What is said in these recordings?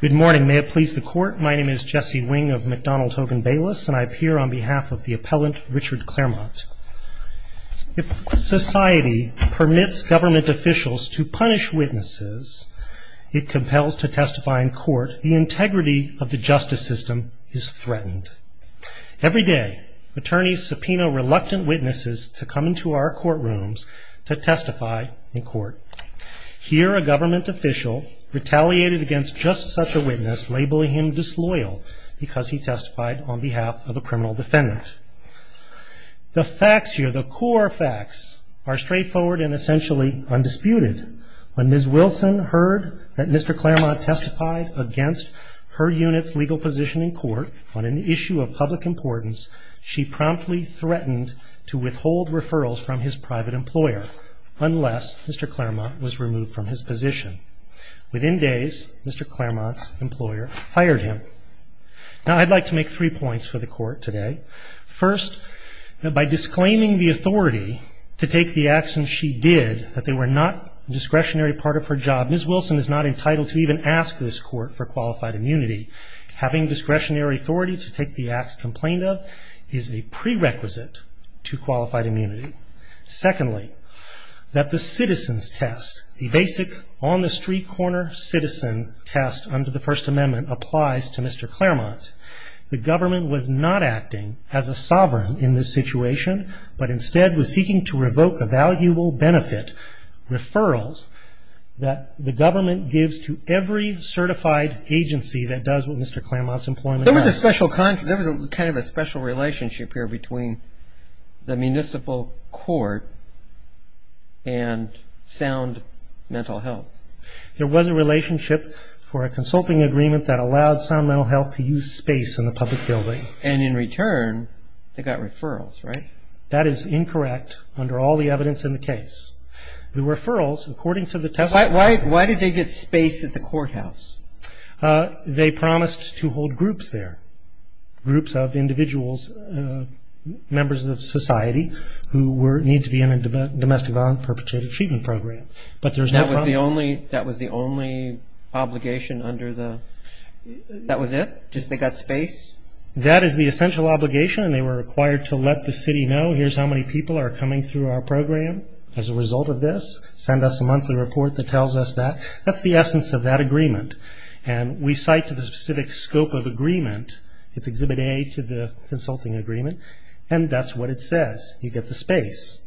Good morning. May it please the Court, my name is Jesse Wing of McDonald Hogan Bayless and I appear on behalf of the appellant Richard Clairmont. If society permits government officials to punish witnesses, it compels to testify in court, the integrity of the justice system is threatened. Every day, attorneys subpoena reluctant witnesses to come into our courtrooms to testify in court. Here, a government official retaliated against just such a witness, labeling him disloyal because he testified on behalf of a criminal defendant. The facts here, the core facts, are straightforward and essentially undisputed. When Ms. Wilson heard that Mr. Clairmont testified against her unit's legal position in court on an issue of public importance, she promptly threatened to withhold referrals from his private employer unless Mr. Clairmont was removed from his position. Within days, Mr. Clairmont's employer fired him. Now, I'd like to make three points for the Court today. First, by disclaiming the authority to take the actions she did, that they were not a discretionary part of her job, Ms. Wilson is not entitled to even ask this Court for qualified immunity. Having discretionary authority to take the acts complained of is a prerequisite to qualified immunity. Secondly, that the citizen's test, the basic on-the-street-corner citizen test under the First Amendment applies to Mr. Clairmont. The government was not acting as a sovereign in this situation, but instead was seeking to revoke a valuable benefit, referrals that the government gives to every certified agency that does what Mr. Clairmont's employment does. There was a special kind of a special relationship here between the municipal court and Sound Mental Health. There was a relationship for a consulting agreement that allowed Sound Mental Health to use space in the public building. And in return, they got referrals, right? That is incorrect under all the evidence in the case. The referrals, according to the test... Why did they get space at the courthouse? They promised to hold groups there, groups of individuals, members of society, who need to be in a domestic violence perpetrated treatment program. But there's no problem. That was the only obligation under the, that was it? Just they got space? That is the essential obligation, and they were required to let the city know, here's how many people are coming through our program as a result of this, send us a monthly report that tells us that. That's the essence of that agreement. And we cite to the specific scope of agreement, it's Exhibit A to the consulting agreement, and that's what it says. You get the space.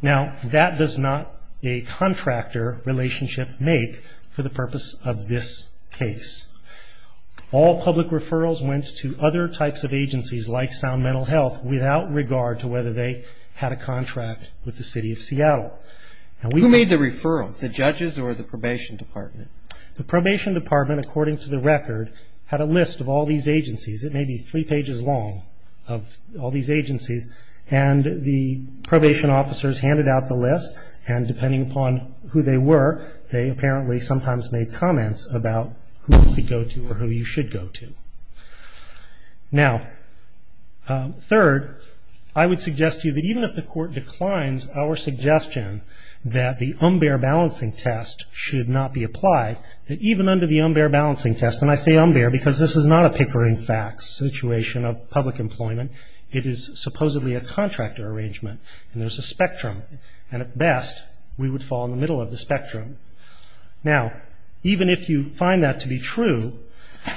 Now, that does not a contractor relationship make for the purpose of this case. All public referrals went to other types of agencies, like Sound Mental Health, without regard to whether they had a contract with the city of Seattle. Who made the referrals, the judges or the probation department? The probation department, according to the record, had a list of all these agencies. It may be three pages long of all these agencies, and the probation officers handed out the list, and depending upon who they were, they apparently sometimes made comments about who you could go to or who you should go to. Now, third, I would suggest to you that even if the court declines our suggestion that the unbear balancing test should not be applied, that even under the unbear balancing test, and I say unbear because this is not a pickering facts situation of public employment. It is supposedly a contractor arrangement, and there's a spectrum, and at best, we would fall in the middle of the spectrum. Now, even if you find that to be true,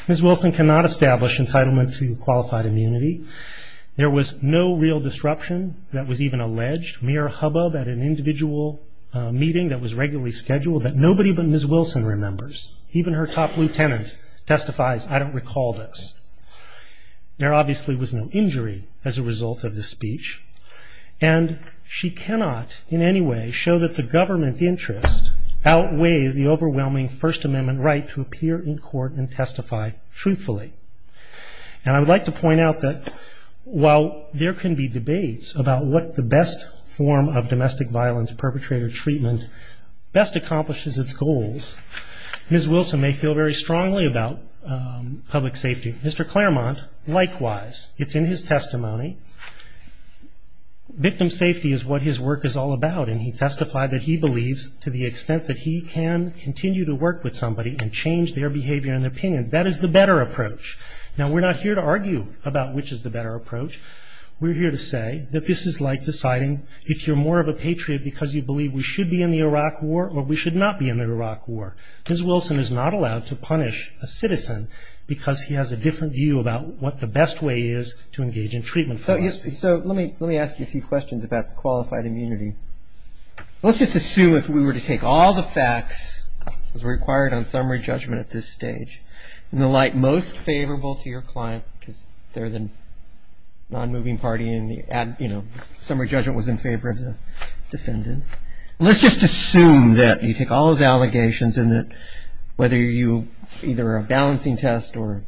Ms. Wilson cannot establish entitlement to qualified immunity. There was no real disruption that was even alleged, mere hubbub at an individual meeting that was regularly scheduled that nobody but Ms. Wilson remembers. Even her top lieutenant testifies, I don't recall this. There obviously was no injury as a result of this speech, and she cannot in any way show that the government interest outweighs the overwhelming First Amendment right to appear in court and testify truthfully. And I would like to point out that while there can be debates about what the best form of domestic violence perpetrator treatment best accomplishes its goals, Ms. Wilson may feel very strongly about public safety. Mr. Claremont, likewise, it's in his testimony. Victim safety is what his work is all about, and he testified that he believes to the extent that he can continue to work with somebody and change their behavior and their opinions, that is the better approach. Now, we're not here to argue about which is the better approach. We're here to say that this is like deciding if you're more of a patriot because you believe we should be in the Iraq War or we should not be in the Iraq War. Ms. Wilson is not allowed to punish a citizen because he has a different view about what the best way is to engage in treatment. So let me ask you a few questions about the qualified immunity. Let's just assume if we were to take all the facts as required on summary judgment at this stage, in the light most favorable to your client because they're the non-moving party and, you know, summary judgment was in favor of the defendants. Let's just assume that you take all those allegations and that whether you either are a balancing test or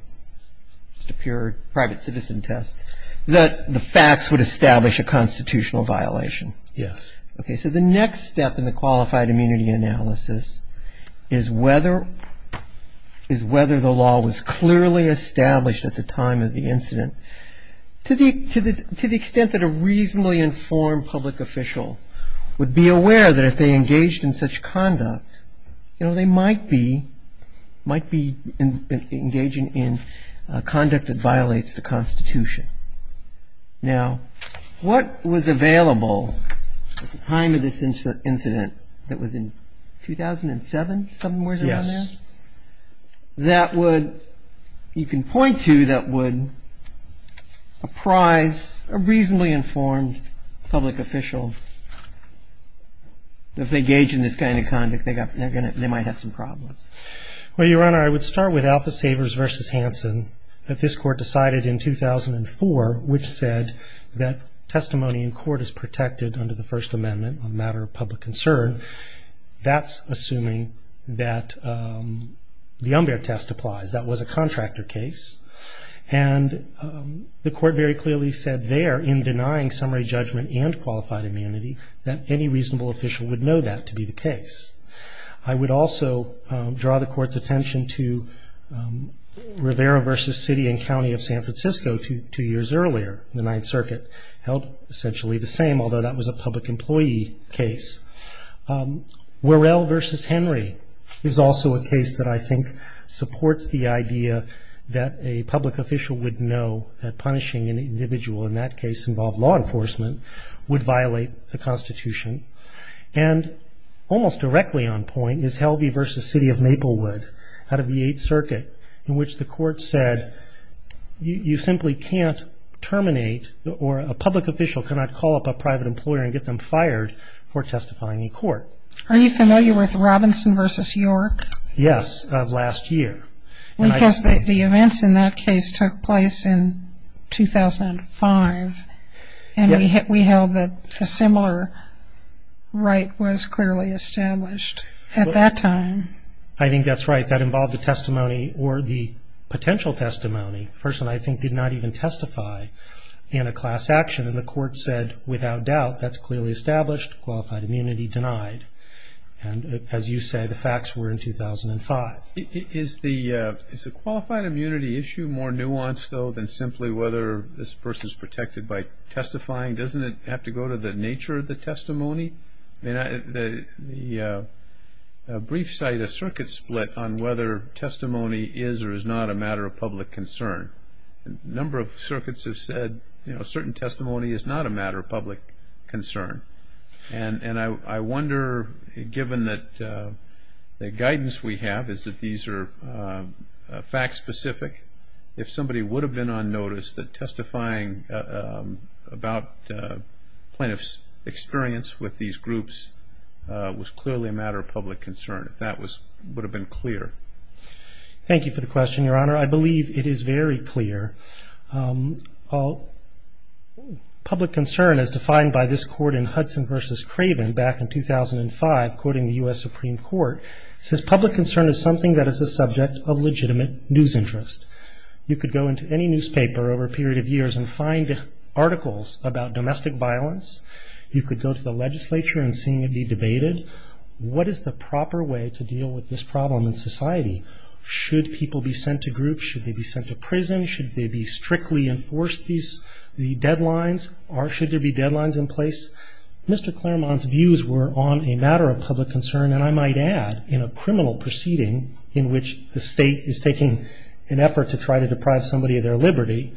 just a pure private citizen test, that the facts would establish a constitutional violation. Yes. Okay, so the next step in the qualified immunity analysis is whether the law was clearly established at the time of the incident To the extent that a reasonably informed public official would be aware that if they engaged in such conduct, you know, they might be engaging in conduct that violates the Constitution. Now, what was available at the time of this incident that was in 2007, somewhere around there? Yes. That would, you can point to, that would apprise a reasonably informed public official that if they engage in this kind of conduct, they might have some problems. Well, Your Honor, I would start with Alpha Savers v. Hansen. If this Court decided in 2004, which said that testimony in court is protected under the First Amendment, a matter of public concern, that's assuming that the Umber test applies. That was a contractor case. And the Court very clearly said there, in denying summary judgment and qualified immunity, that any reasonable official would know that to be the case. I would also draw the Court's attention to Rivera v. City and County of San Francisco two years earlier. The Ninth Circuit held essentially the same, although that was a public employee case. Worrell v. Henry is also a case that I think supports the idea that a public official would know that punishing an individual in that case involved law enforcement would violate the Constitution. And almost directly on point is Helvey v. City of Maplewood out of the Eighth Circuit, in which the Court said you simply can't terminate or a public official cannot call up a private employer and get them fired for testifying in court. Are you familiar with Robinson v. York? Yes, of last year. Because the events in that case took place in 2005, and we held that a similar right was clearly established at that time. I think that's right. That involved a testimony or the potential testimony. The person, I think, did not even testify in a class action, and the Court said without doubt that's clearly established, qualified immunity denied. And as you say, the facts were in 2005. Is the qualified immunity issue more nuanced, though, than simply whether this person is protected by testifying? Doesn't it have to go to the nature of the testimony? The briefs cite a circuit split on whether testimony is or is not a matter of public concern. A number of circuits have said a certain testimony is not a matter of public concern. And I wonder, given that the guidance we have is that these are fact-specific, if somebody would have been on notice that testifying about plaintiff's experience with these groups was clearly a matter of public concern, if that would have been clear. Thank you for the question, Your Honor. I believe it is very clear. Public concern as defined by this court in Hudson v. Craven back in 2005, quoting the U.S. Supreme Court, says, public concern is something that is the subject of legitimate news interest. You could go into any newspaper over a period of years and find articles about domestic violence. You could go to the legislature and see it be debated. What is the proper way to deal with this problem in society? Should people be sent to groups? Should they be sent to prison? Should they be strictly enforced, the deadlines? Or should there be deadlines in place? Mr. Claremont's views were on a matter of public concern, and I might add in a criminal proceeding in which the state is taking an effort to try to deprive somebody of their liberty.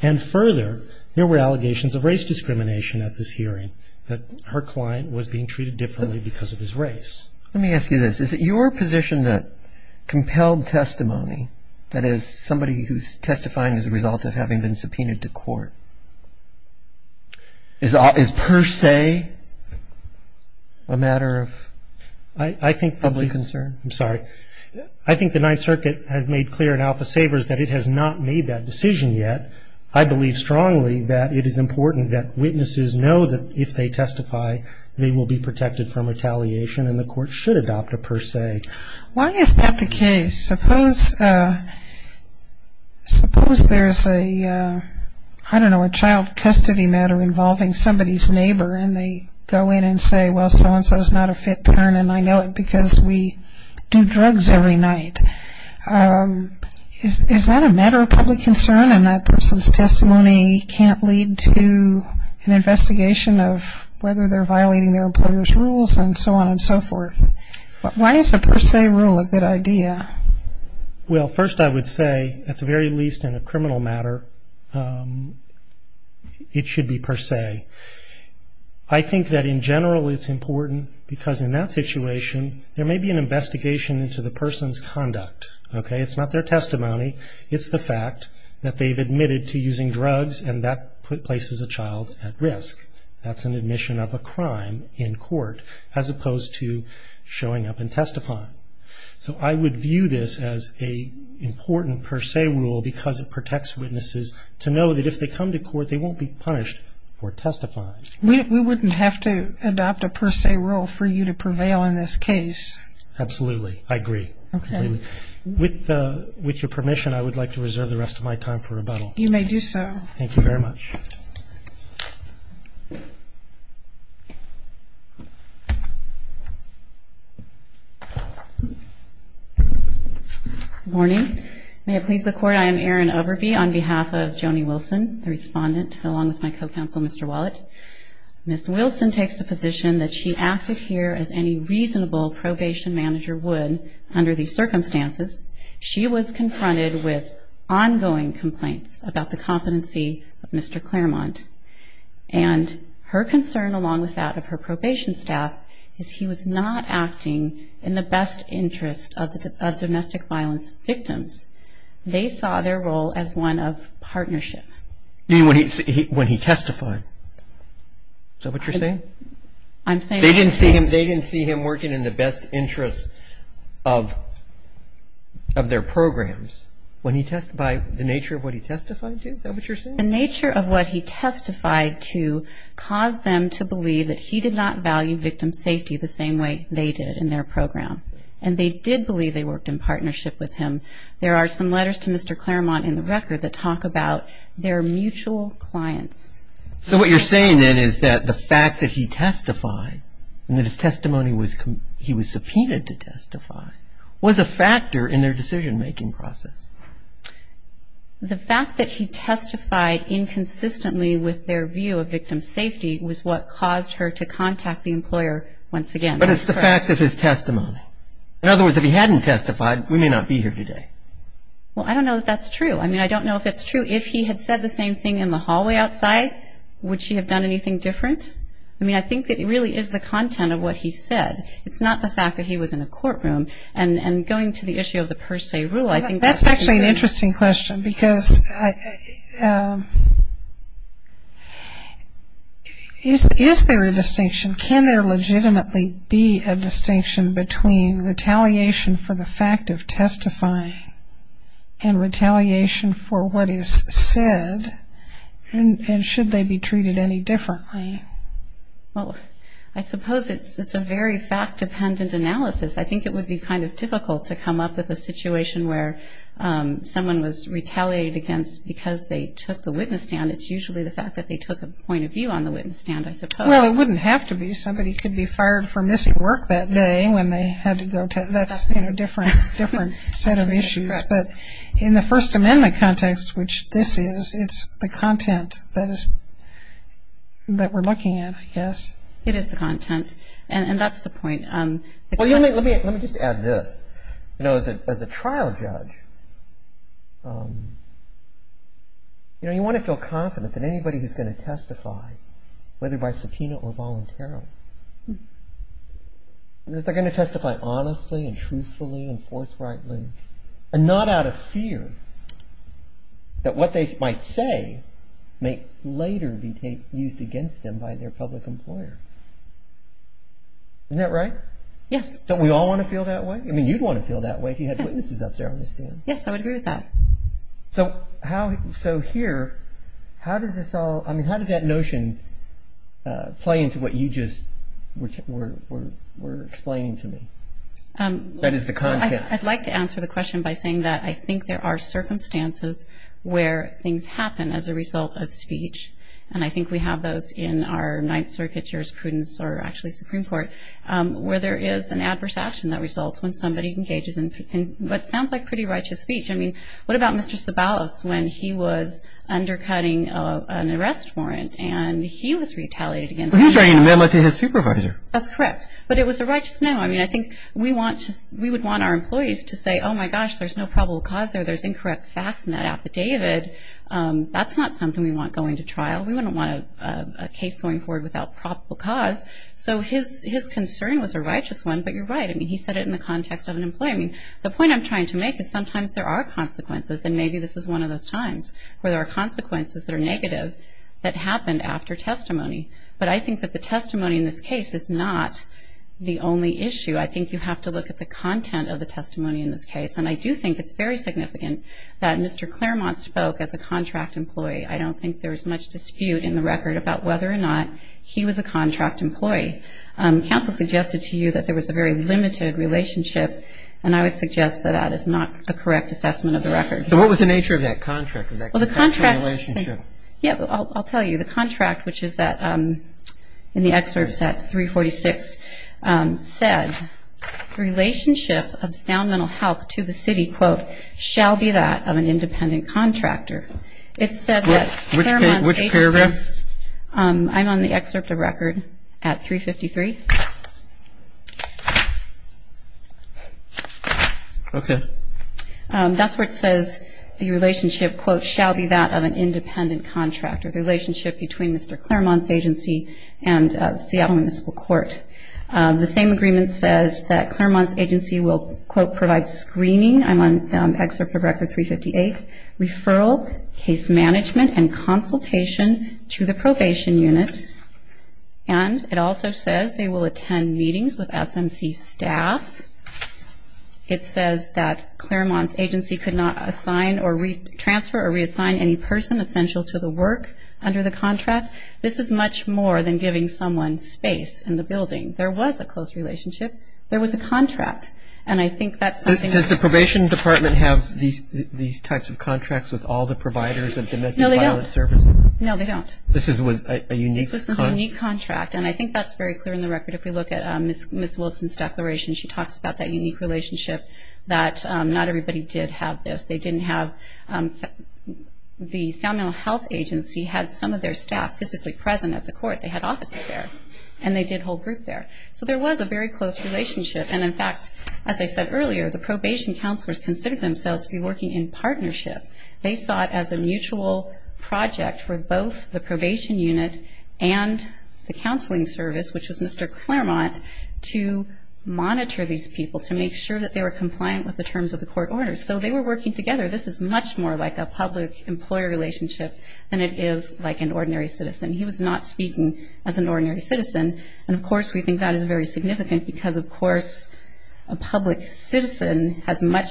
And further, there were allegations of race discrimination at this hearing, that her client was being treated differently because of his race. Let me ask you this. Is it your position that compelled testimony, that is somebody who is testifying as a result of having been subpoenaed to court, is per se a matter of public concern? I'm sorry. I think the Ninth Circuit has made clear in Alpha Savers that it has not made that decision yet. I believe strongly that it is important that witnesses know that if they testify, they will be protected from retaliation and the court should adopt a per se. Why is that the case? Suppose there's a, I don't know, a child custody matter involving somebody's neighbor, and they go in and say, well, so-and-so is not a fit parent, and I know it because we do drugs every night. Is that a matter of public concern? And that person's testimony can't lead to an investigation of whether they're violating their employer's rules and so on and so forth. Why is a per se rule a good idea? Well, first I would say, at the very least in a criminal matter, it should be per se. I think that in general it's important because in that situation, there may be an investigation into the person's conduct. Okay? It's not their testimony. It's the fact that they've admitted to using drugs and that places a child at risk. That's an admission of a crime in court as opposed to showing up and testifying. So I would view this as an important per se rule because it protects witnesses to know that if they come to court, they won't be punished for testifying. We wouldn't have to adopt a per se rule for you to prevail in this case. Absolutely. I agree. Okay. With your permission, I would like to reserve the rest of my time for rebuttal. You may do so. Thank you very much. Good morning. May it please the Court, I am Erin Overby on behalf of Joni Wilson, the respondent, along with my co-counsel, Mr. Wallet. Ms. Wilson takes the position that she acted here as any reasonable probation manager would under these circumstances. She was confronted with ongoing complaints about the competency of Mr. Claremont. And her concern, along with that of her probation staff, is he was not acting in the best interest of domestic violence victims. They saw their role as one of partnership. You mean when he testified? Is that what you're saying? They didn't see him working in the best interest of their programs. When he testified, the nature of what he testified to, is that what you're saying? The nature of what he testified to caused them to believe that he did not value victim safety the same way they did in their program. And they did believe they worked in partnership with him. There are some letters to Mr. Claremont in the record that talk about their mutual clients. So what you're saying then is that the fact that he testified, and that his testimony was, he was subpoenaed to testify, was a factor in their decision-making process. The fact that he testified inconsistently with their view of victim safety was what caused her to contact the employer once again. But it's the fact of his testimony. In other words, if he hadn't testified, we may not be here today. Well, I don't know that that's true. I mean, I don't know if it's true. If he had said the same thing in the hallway outside, would she have done anything different? I mean, I think that it really is the content of what he said. It's not the fact that he was in a courtroom. And going to the issue of the per se rule, I think that's true. That's actually an interesting question, because is there a distinction? Can there legitimately be a distinction between retaliation for the fact of testifying and retaliation for what is said? And should they be treated any differently? Well, I suppose it's a very fact-dependent analysis. I think it would be kind of difficult to come up with a situation where someone was retaliated against because they took the witness stand. It's usually the fact that they took a point of view on the witness stand, I suppose. Well, it wouldn't have to be. Somebody could be fired for missing work that day when they had to go test. That's a different set of issues. But in the First Amendment context, which this is, it's the content that we're looking at, I guess. It is the content. And that's the point. Let me just add this. As a trial judge, you want to feel confident that anybody who's going to testify, whether by subpoena or voluntarily, that they're going to testify honestly and truthfully and forthrightly and not out of fear that what they might say may later be used against them by their public employer. Isn't that right? Yes. Don't we all want to feel that way? I mean, you'd want to feel that way if you had witnesses up there on the stand. Yes, I would agree with that. So here, how does that notion play into what you just were explaining to me? That is, the content. I'd like to answer the question by saying that I think there are circumstances where things happen as a result of speech, and I think we have those in our Ninth Circuit jurisprudence or actually Supreme Court, where there is an adverse action that results when somebody engages in what sounds like pretty righteous speech. I mean, what about Mr. Sabalos when he was undercutting an arrest warrant and he was retaliated against? Well, he was writing a memo to his supervisor. That's correct. But it was a righteous memo. I mean, I think we would want our employees to say, oh, my gosh, there's no probable cause there. There's incorrect facts in that affidavit. That's not something we want going to trial. We wouldn't want a case going forward without probable cause. So his concern was a righteous one, but you're right. I mean, he said it in the context of an employee. I mean, the point I'm trying to make is sometimes there are consequences, and maybe this is one of those times where there are consequences that are negative that happened after testimony. But I think that the testimony in this case is not the only issue. I think you have to look at the content of the testimony in this case, and I do think it's very significant that Mr. Claremont spoke as a contract employee. I don't think there's much dispute in the record about whether or not he was a contract employee. Counsel suggested to you that there was a very limited relationship, and I would suggest that that is not a correct assessment of the record. So what was the nature of that contract? Well, the contract is the same. I'll tell you. The contract, which is in the excerpt set 346, said, The relationship of sound mental health to the city, quote, shall be that of an independent contractor. Which paragraph? I'm on the excerpt of record at 353. Okay. That's where it says the relationship, quote, shall be that of an independent contractor, the relationship between Mr. Claremont's agency and Seattle Municipal Court. The same agreement says that Claremont's agency will, quote, provide screening. I'm on excerpt of record 358. Referral, case management, and consultation to the probation unit. And it also says they will attend meetings with SMC staff. It says that Claremont's agency could not assign or transfer or reassign any person essential to the work under the contract. This is much more than giving someone space in the building. There was a close relationship. There was a contract, and I think that's something. Does the probation department have these types of contracts with all the providers of domestic violence services? No, they don't. No, they don't. This was a unique contract. This was a unique contract, and I think that's very clear in the record. If we look at Ms. Wilson's declaration, she talks about that unique relationship, that not everybody did have this. They didn't have the Samuel Health Agency had some of their staff physically present at the court. They had offices there, and they did hold group there. So there was a very close relationship, and, in fact, as I said earlier, the probation counselors considered themselves to be working in partnership. They saw it as a mutual project for both the probation unit and the counseling service, which was Mr. Claremont, to monitor these people, to make sure that they were compliant with the terms of the court orders. So they were working together. This is much more like a public-employer relationship than it is like an ordinary citizen. He was not speaking as an ordinary citizen, and, of course, we think that is very significant because, of course, a public citizen has much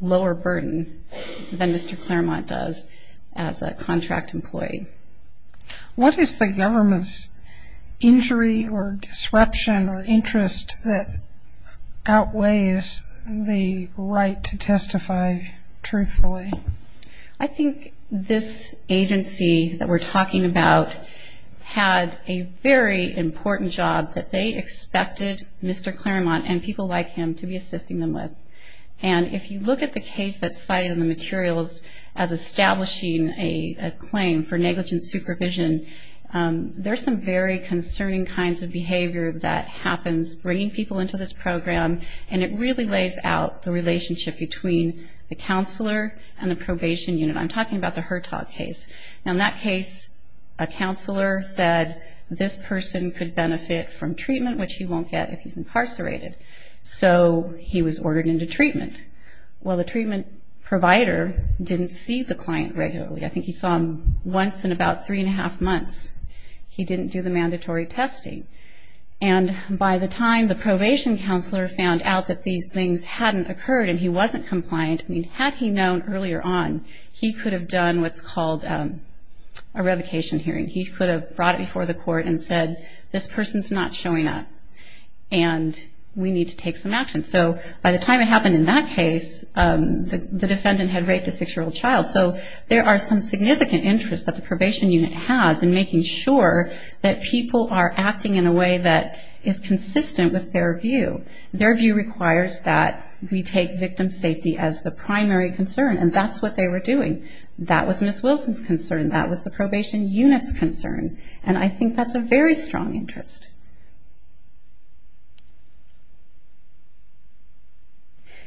lower burden than Mr. Claremont does as a contract employee. What is the government's injury or disruption or interest that outweighs the right to testify truthfully? I think this agency that we're talking about had a very important job that they expected Mr. Claremont and people like him to be assisting them with. And if you look at the case that's cited in the materials as establishing a claim for negligent supervision, there's some very concerning kinds of behavior that happens bringing people into this program, and it really lays out the relationship between the counselor and the probation unit. I'm talking about the Hertog case. In that case, a counselor said this person could benefit from treatment, which he won't get if he's incarcerated. So he was ordered into treatment. Well, the treatment provider didn't see the client regularly. I think he saw him once in about three and a half months. He didn't do the mandatory testing. And by the time the probation counselor found out that these things hadn't occurred and he wasn't compliant, I mean, had he known earlier on, he could have done what's called a revocation hearing. He could have brought it before the court and said, this person's not showing up and we need to take some action. So by the time it happened in that case, the defendant had raped a 6-year-old child. So there are some significant interests that the probation unit has in making sure that people are acting in a way that is consistent with their view. Their view requires that we take victim safety as the primary concern, and that's what they were doing. That was Ms. Wilson's concern. That was the probation unit's concern. And I think that's a very strong interest.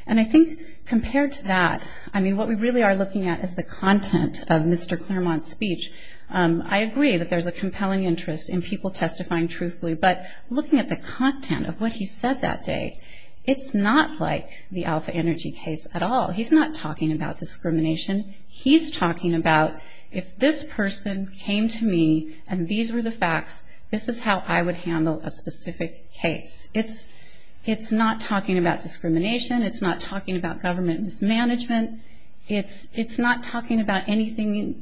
And I think compared to that, I mean, what we really are looking at is the content of Mr. Claremont's speech. I agree that there's a compelling interest in people testifying truthfully, but looking at the content of what he said that day, it's not like the Alpha Energy case at all. He's not talking about discrimination. He's talking about if this person came to me and these were the facts, this is how I would handle a specific case. It's not talking about discrimination. It's not talking about government mismanagement. It's not talking about anything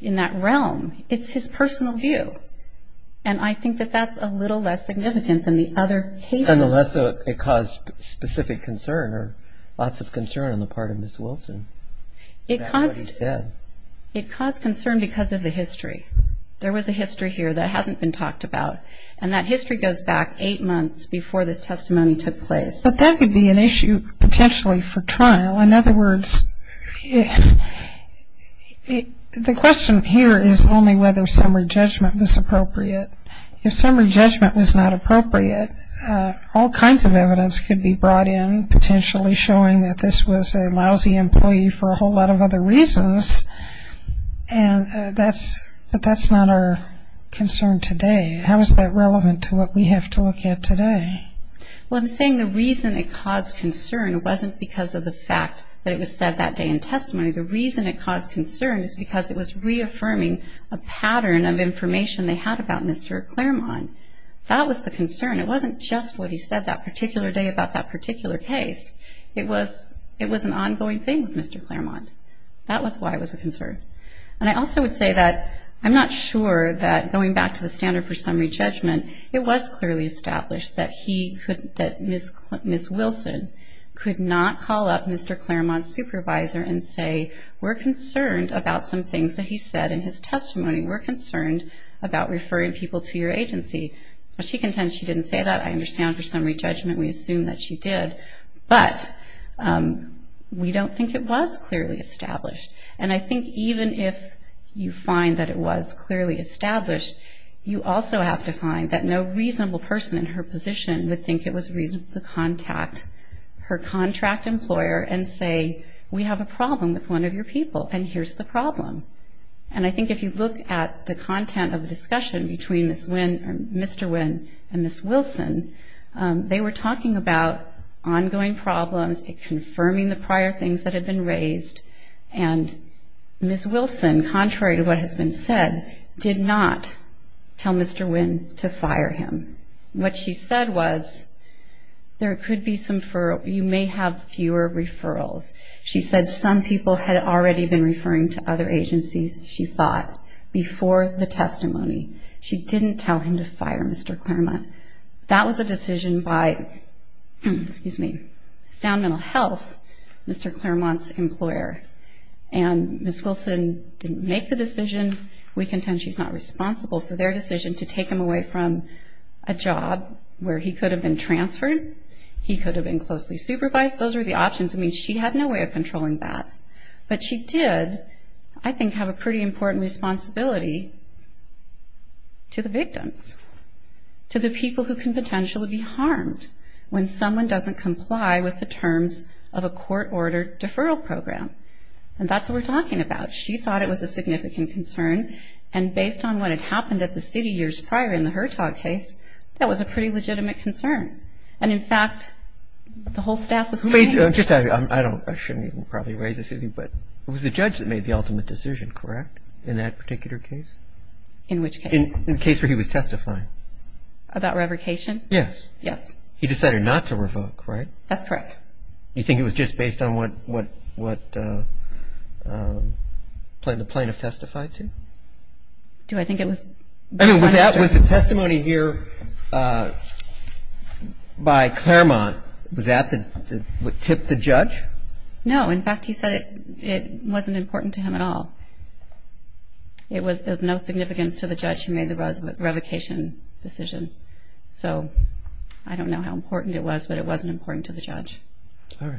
in that realm. It's his personal view. And I think that that's a little less significant than the other cases. And the less it caused specific concern or lots of concern on the part of Ms. Wilson. It caused concern because of the history. There was a history here that hasn't been talked about, and that history goes back eight months before this testimony took place. But that could be an issue potentially for trial. In other words, the question here is only whether summary judgment was appropriate. If summary judgment was not appropriate, all kinds of evidence could be brought in potentially showing that this was a lousy employee for a whole lot of other reasons, but that's not our concern today. How is that relevant to what we have to look at today? Well, I'm saying the reason it caused concern wasn't because of the fact that it was said that day in testimony. The reason it caused concern is because it was reaffirming a pattern of information they had about Mr. Claremont. That was the concern. It wasn't just what he said that particular day about that particular case. It was an ongoing thing with Mr. Claremont. That was why it was a concern. And I also would say that I'm not sure that going back to the standard for summary judgment, it was clearly established that Ms. Wilson could not call up Mr. Claremont's supervisor and say we're concerned about some things that he said in his testimony. We're concerned about referring people to your agency. She contends she didn't say that. I understand for summary judgment we assume that she did. But we don't think it was clearly established. And I think even if you find that it was clearly established, you also have to find that no reasonable person in her position would think it was reasonable to contact her contract employer and say we have a problem with one of your people and here's the problem. And I think if you look at the content of the discussion between Mr. Wynn and Ms. Wilson, they were talking about ongoing problems, confirming the prior things that had been raised, and Ms. Wilson, contrary to what has been said, did not tell Mr. Wynn to fire him. What she said was there could be some, you may have fewer referrals. She said some people had already been referring to other agencies, she thought, before the testimony. She didn't tell him to fire Mr. Claremont. That was a decision by Sound Mental Health, Mr. Claremont's employer. And Ms. Wilson didn't make the decision. We contend she's not responsible for their decision to take him away from a job where he could have been transferred, he could have been closely supervised. Those were the options. I mean, she had no way of controlling that. But she did, I think, have a pretty important responsibility to the victims, to the people who can potentially be harmed when someone doesn't comply with the terms of a court-ordered deferral program. And that's what we're talking about. She thought it was a significant concern, and based on what had happened at the city years prior in the Hurtog case, that was a pretty legitimate concern. And, in fact, the whole staff was trained. I shouldn't even probably raise this with you, but it was the judge that made the ultimate decision, correct, in that particular case? In which case? In the case where he was testifying. About revocation? Yes. Yes. He decided not to revoke, right? That's correct. You think it was just based on what the plaintiff testified to? Do I think it was? I mean, that was the testimony here by Claremont. Was that what tipped the judge? No. In fact, he said it wasn't important to him at all. It was of no significance to the judge who made the revocation decision. So I don't know how important it was, but it wasn't important to the judge. All right.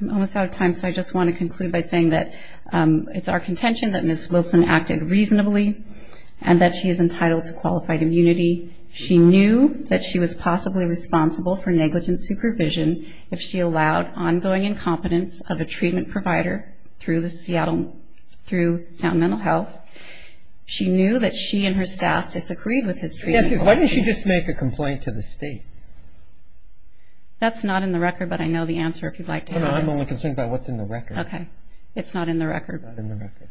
I'm almost out of time, so I just want to conclude by saying that it's our contention that Ms. Wilson acted reasonably and that she is entitled to qualified immunity. She knew that she was possibly responsible for negligent supervision if she allowed ongoing incompetence of a treatment provider through Seattle Mental Health. She knew that she and her staff disagreed with his treatment policy. Why didn't she just make a complaint to the state? That's not in the record, but I know the answer if you'd like to know. I'm only concerned about what's in the record. Okay. It's not in the record. It's not in the record.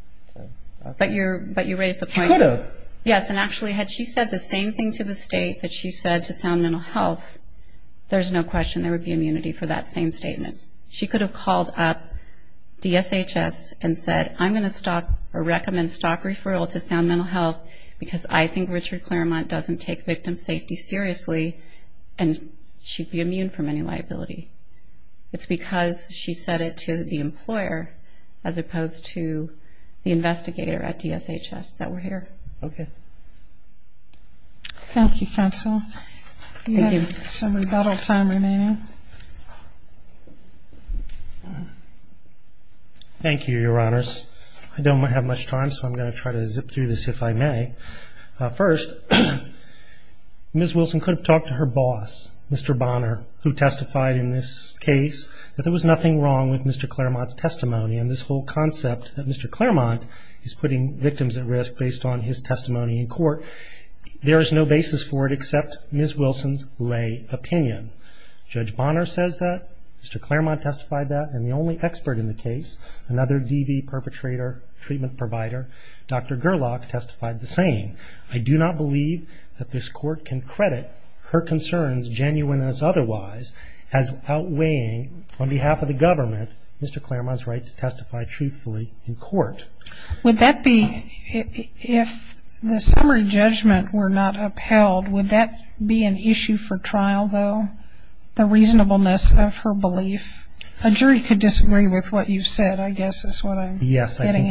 But you raised the point. It could have. Yes, and actually had she said the same thing to the state that she said to Sound Mental Health, there's no question there would be immunity for that same statement. She could have called up DSHS and said, I'm going to stop or recommend stop referral to Sound Mental Health because I think Richard Claremont doesn't take victim safety seriously and she'd be immune from any liability. It's because she said it to the employer as opposed to the investigator at DSHS that we're here. Okay. Thank you, counsel. Thank you. We have some rebuttal time remaining. Thank you, Your Honors. I don't have much time, so I'm going to try to zip through this if I may. First, Ms. Wilson could have talked to her boss, Mr. Bonner, who testified in this case that there was nothing wrong with Mr. Claremont's testimony and this whole concept that Mr. Claremont is putting victims at risk based on his testimony in court, there is no basis for it except Ms. Wilson's lay opinion. Judge Bonner says that, Mr. Claremont testified that, and the only expert in the case, another DV perpetrator, treatment provider, Dr. Gerlach testified the same. I do not believe that this court can credit her concerns, genuine as otherwise, as outweighing on behalf of the government Mr. Claremont's right to testify truthfully in court. Would that be, if the summary judgment were not upheld, would that be an issue for trial, though, the reasonableness of her belief? A jury could disagree with what you've said, I guess is what I'm getting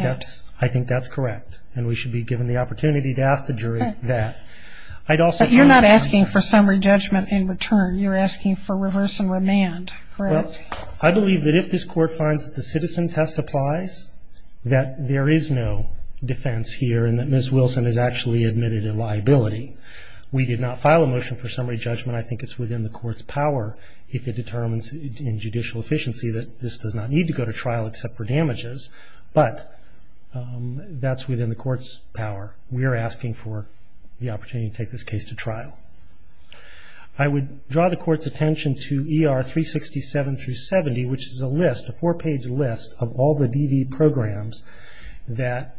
at. Yes, I think that's correct, and we should be given the opportunity to ask the jury that. But you're not asking for summary judgment in return, you're asking for reverse and remand, correct? Well, I believe that if this court finds that the citizen testifies, that there is no defense here and that Ms. Wilson has actually admitted a liability. We did not file a motion for summary judgment. I think it's within the court's power if it determines in judicial efficiency that this does not need to go to trial except for damages. But that's within the court's power. We are asking for the opportunity to take this case to trial. I would draw the court's attention to ER 367 through 70, which is a list, a four-page list of all the DV programs that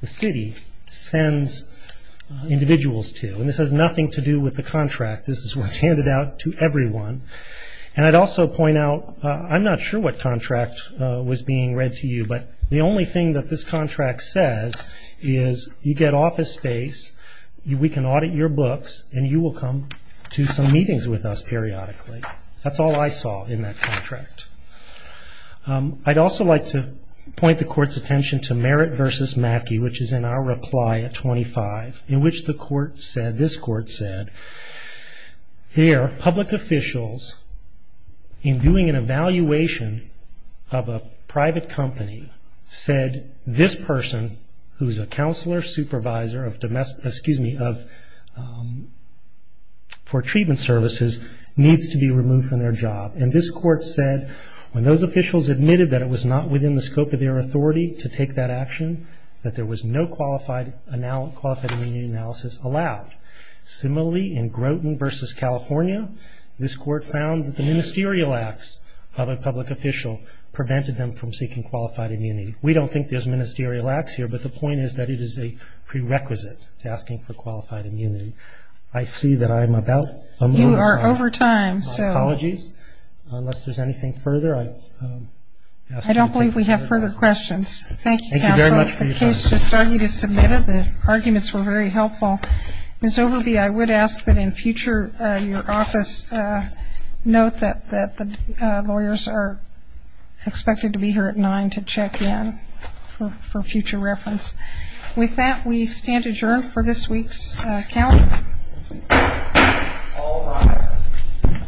the city sends individuals to. And this has nothing to do with the contract. This is what's handed out to everyone. And I'd also point out, I'm not sure what contract was being read to you, but the only thing that this contract says is you get office space, we can audit your books, and you will come to some meetings with us periodically. That's all I saw in that contract. I'd also like to point the court's attention to Merritt v. Mackey, which is in our reply at 25, in which the court said, this court said, there are public officials in doing an evaluation of a private company said, this person who is a counselor supervisor for treatment services needs to be removed from their job. And this court said when those officials admitted that it was not within the scope of their authority to take that action, that there was no qualified immunity analysis allowed. Similarly, in Groton v. California, this court found that the ministerial acts of a public official prevented them from seeking qualified immunity. We don't think there's ministerial acts here, but the point is that it is a prerequisite to asking for qualified immunity. I see that I'm about a minute short. You are over time, so. Apologies. Unless there's anything further, I've asked you to consider questions. Thank you, counsel. Thank you very much for your time. The case just started to submit it. The arguments were very helpful. Ms. Overby, I would ask that in future your office note that the lawyers are expected to be here at 9 to check in for future reference. With that, we stand adjourned for this week's calendar. All rise.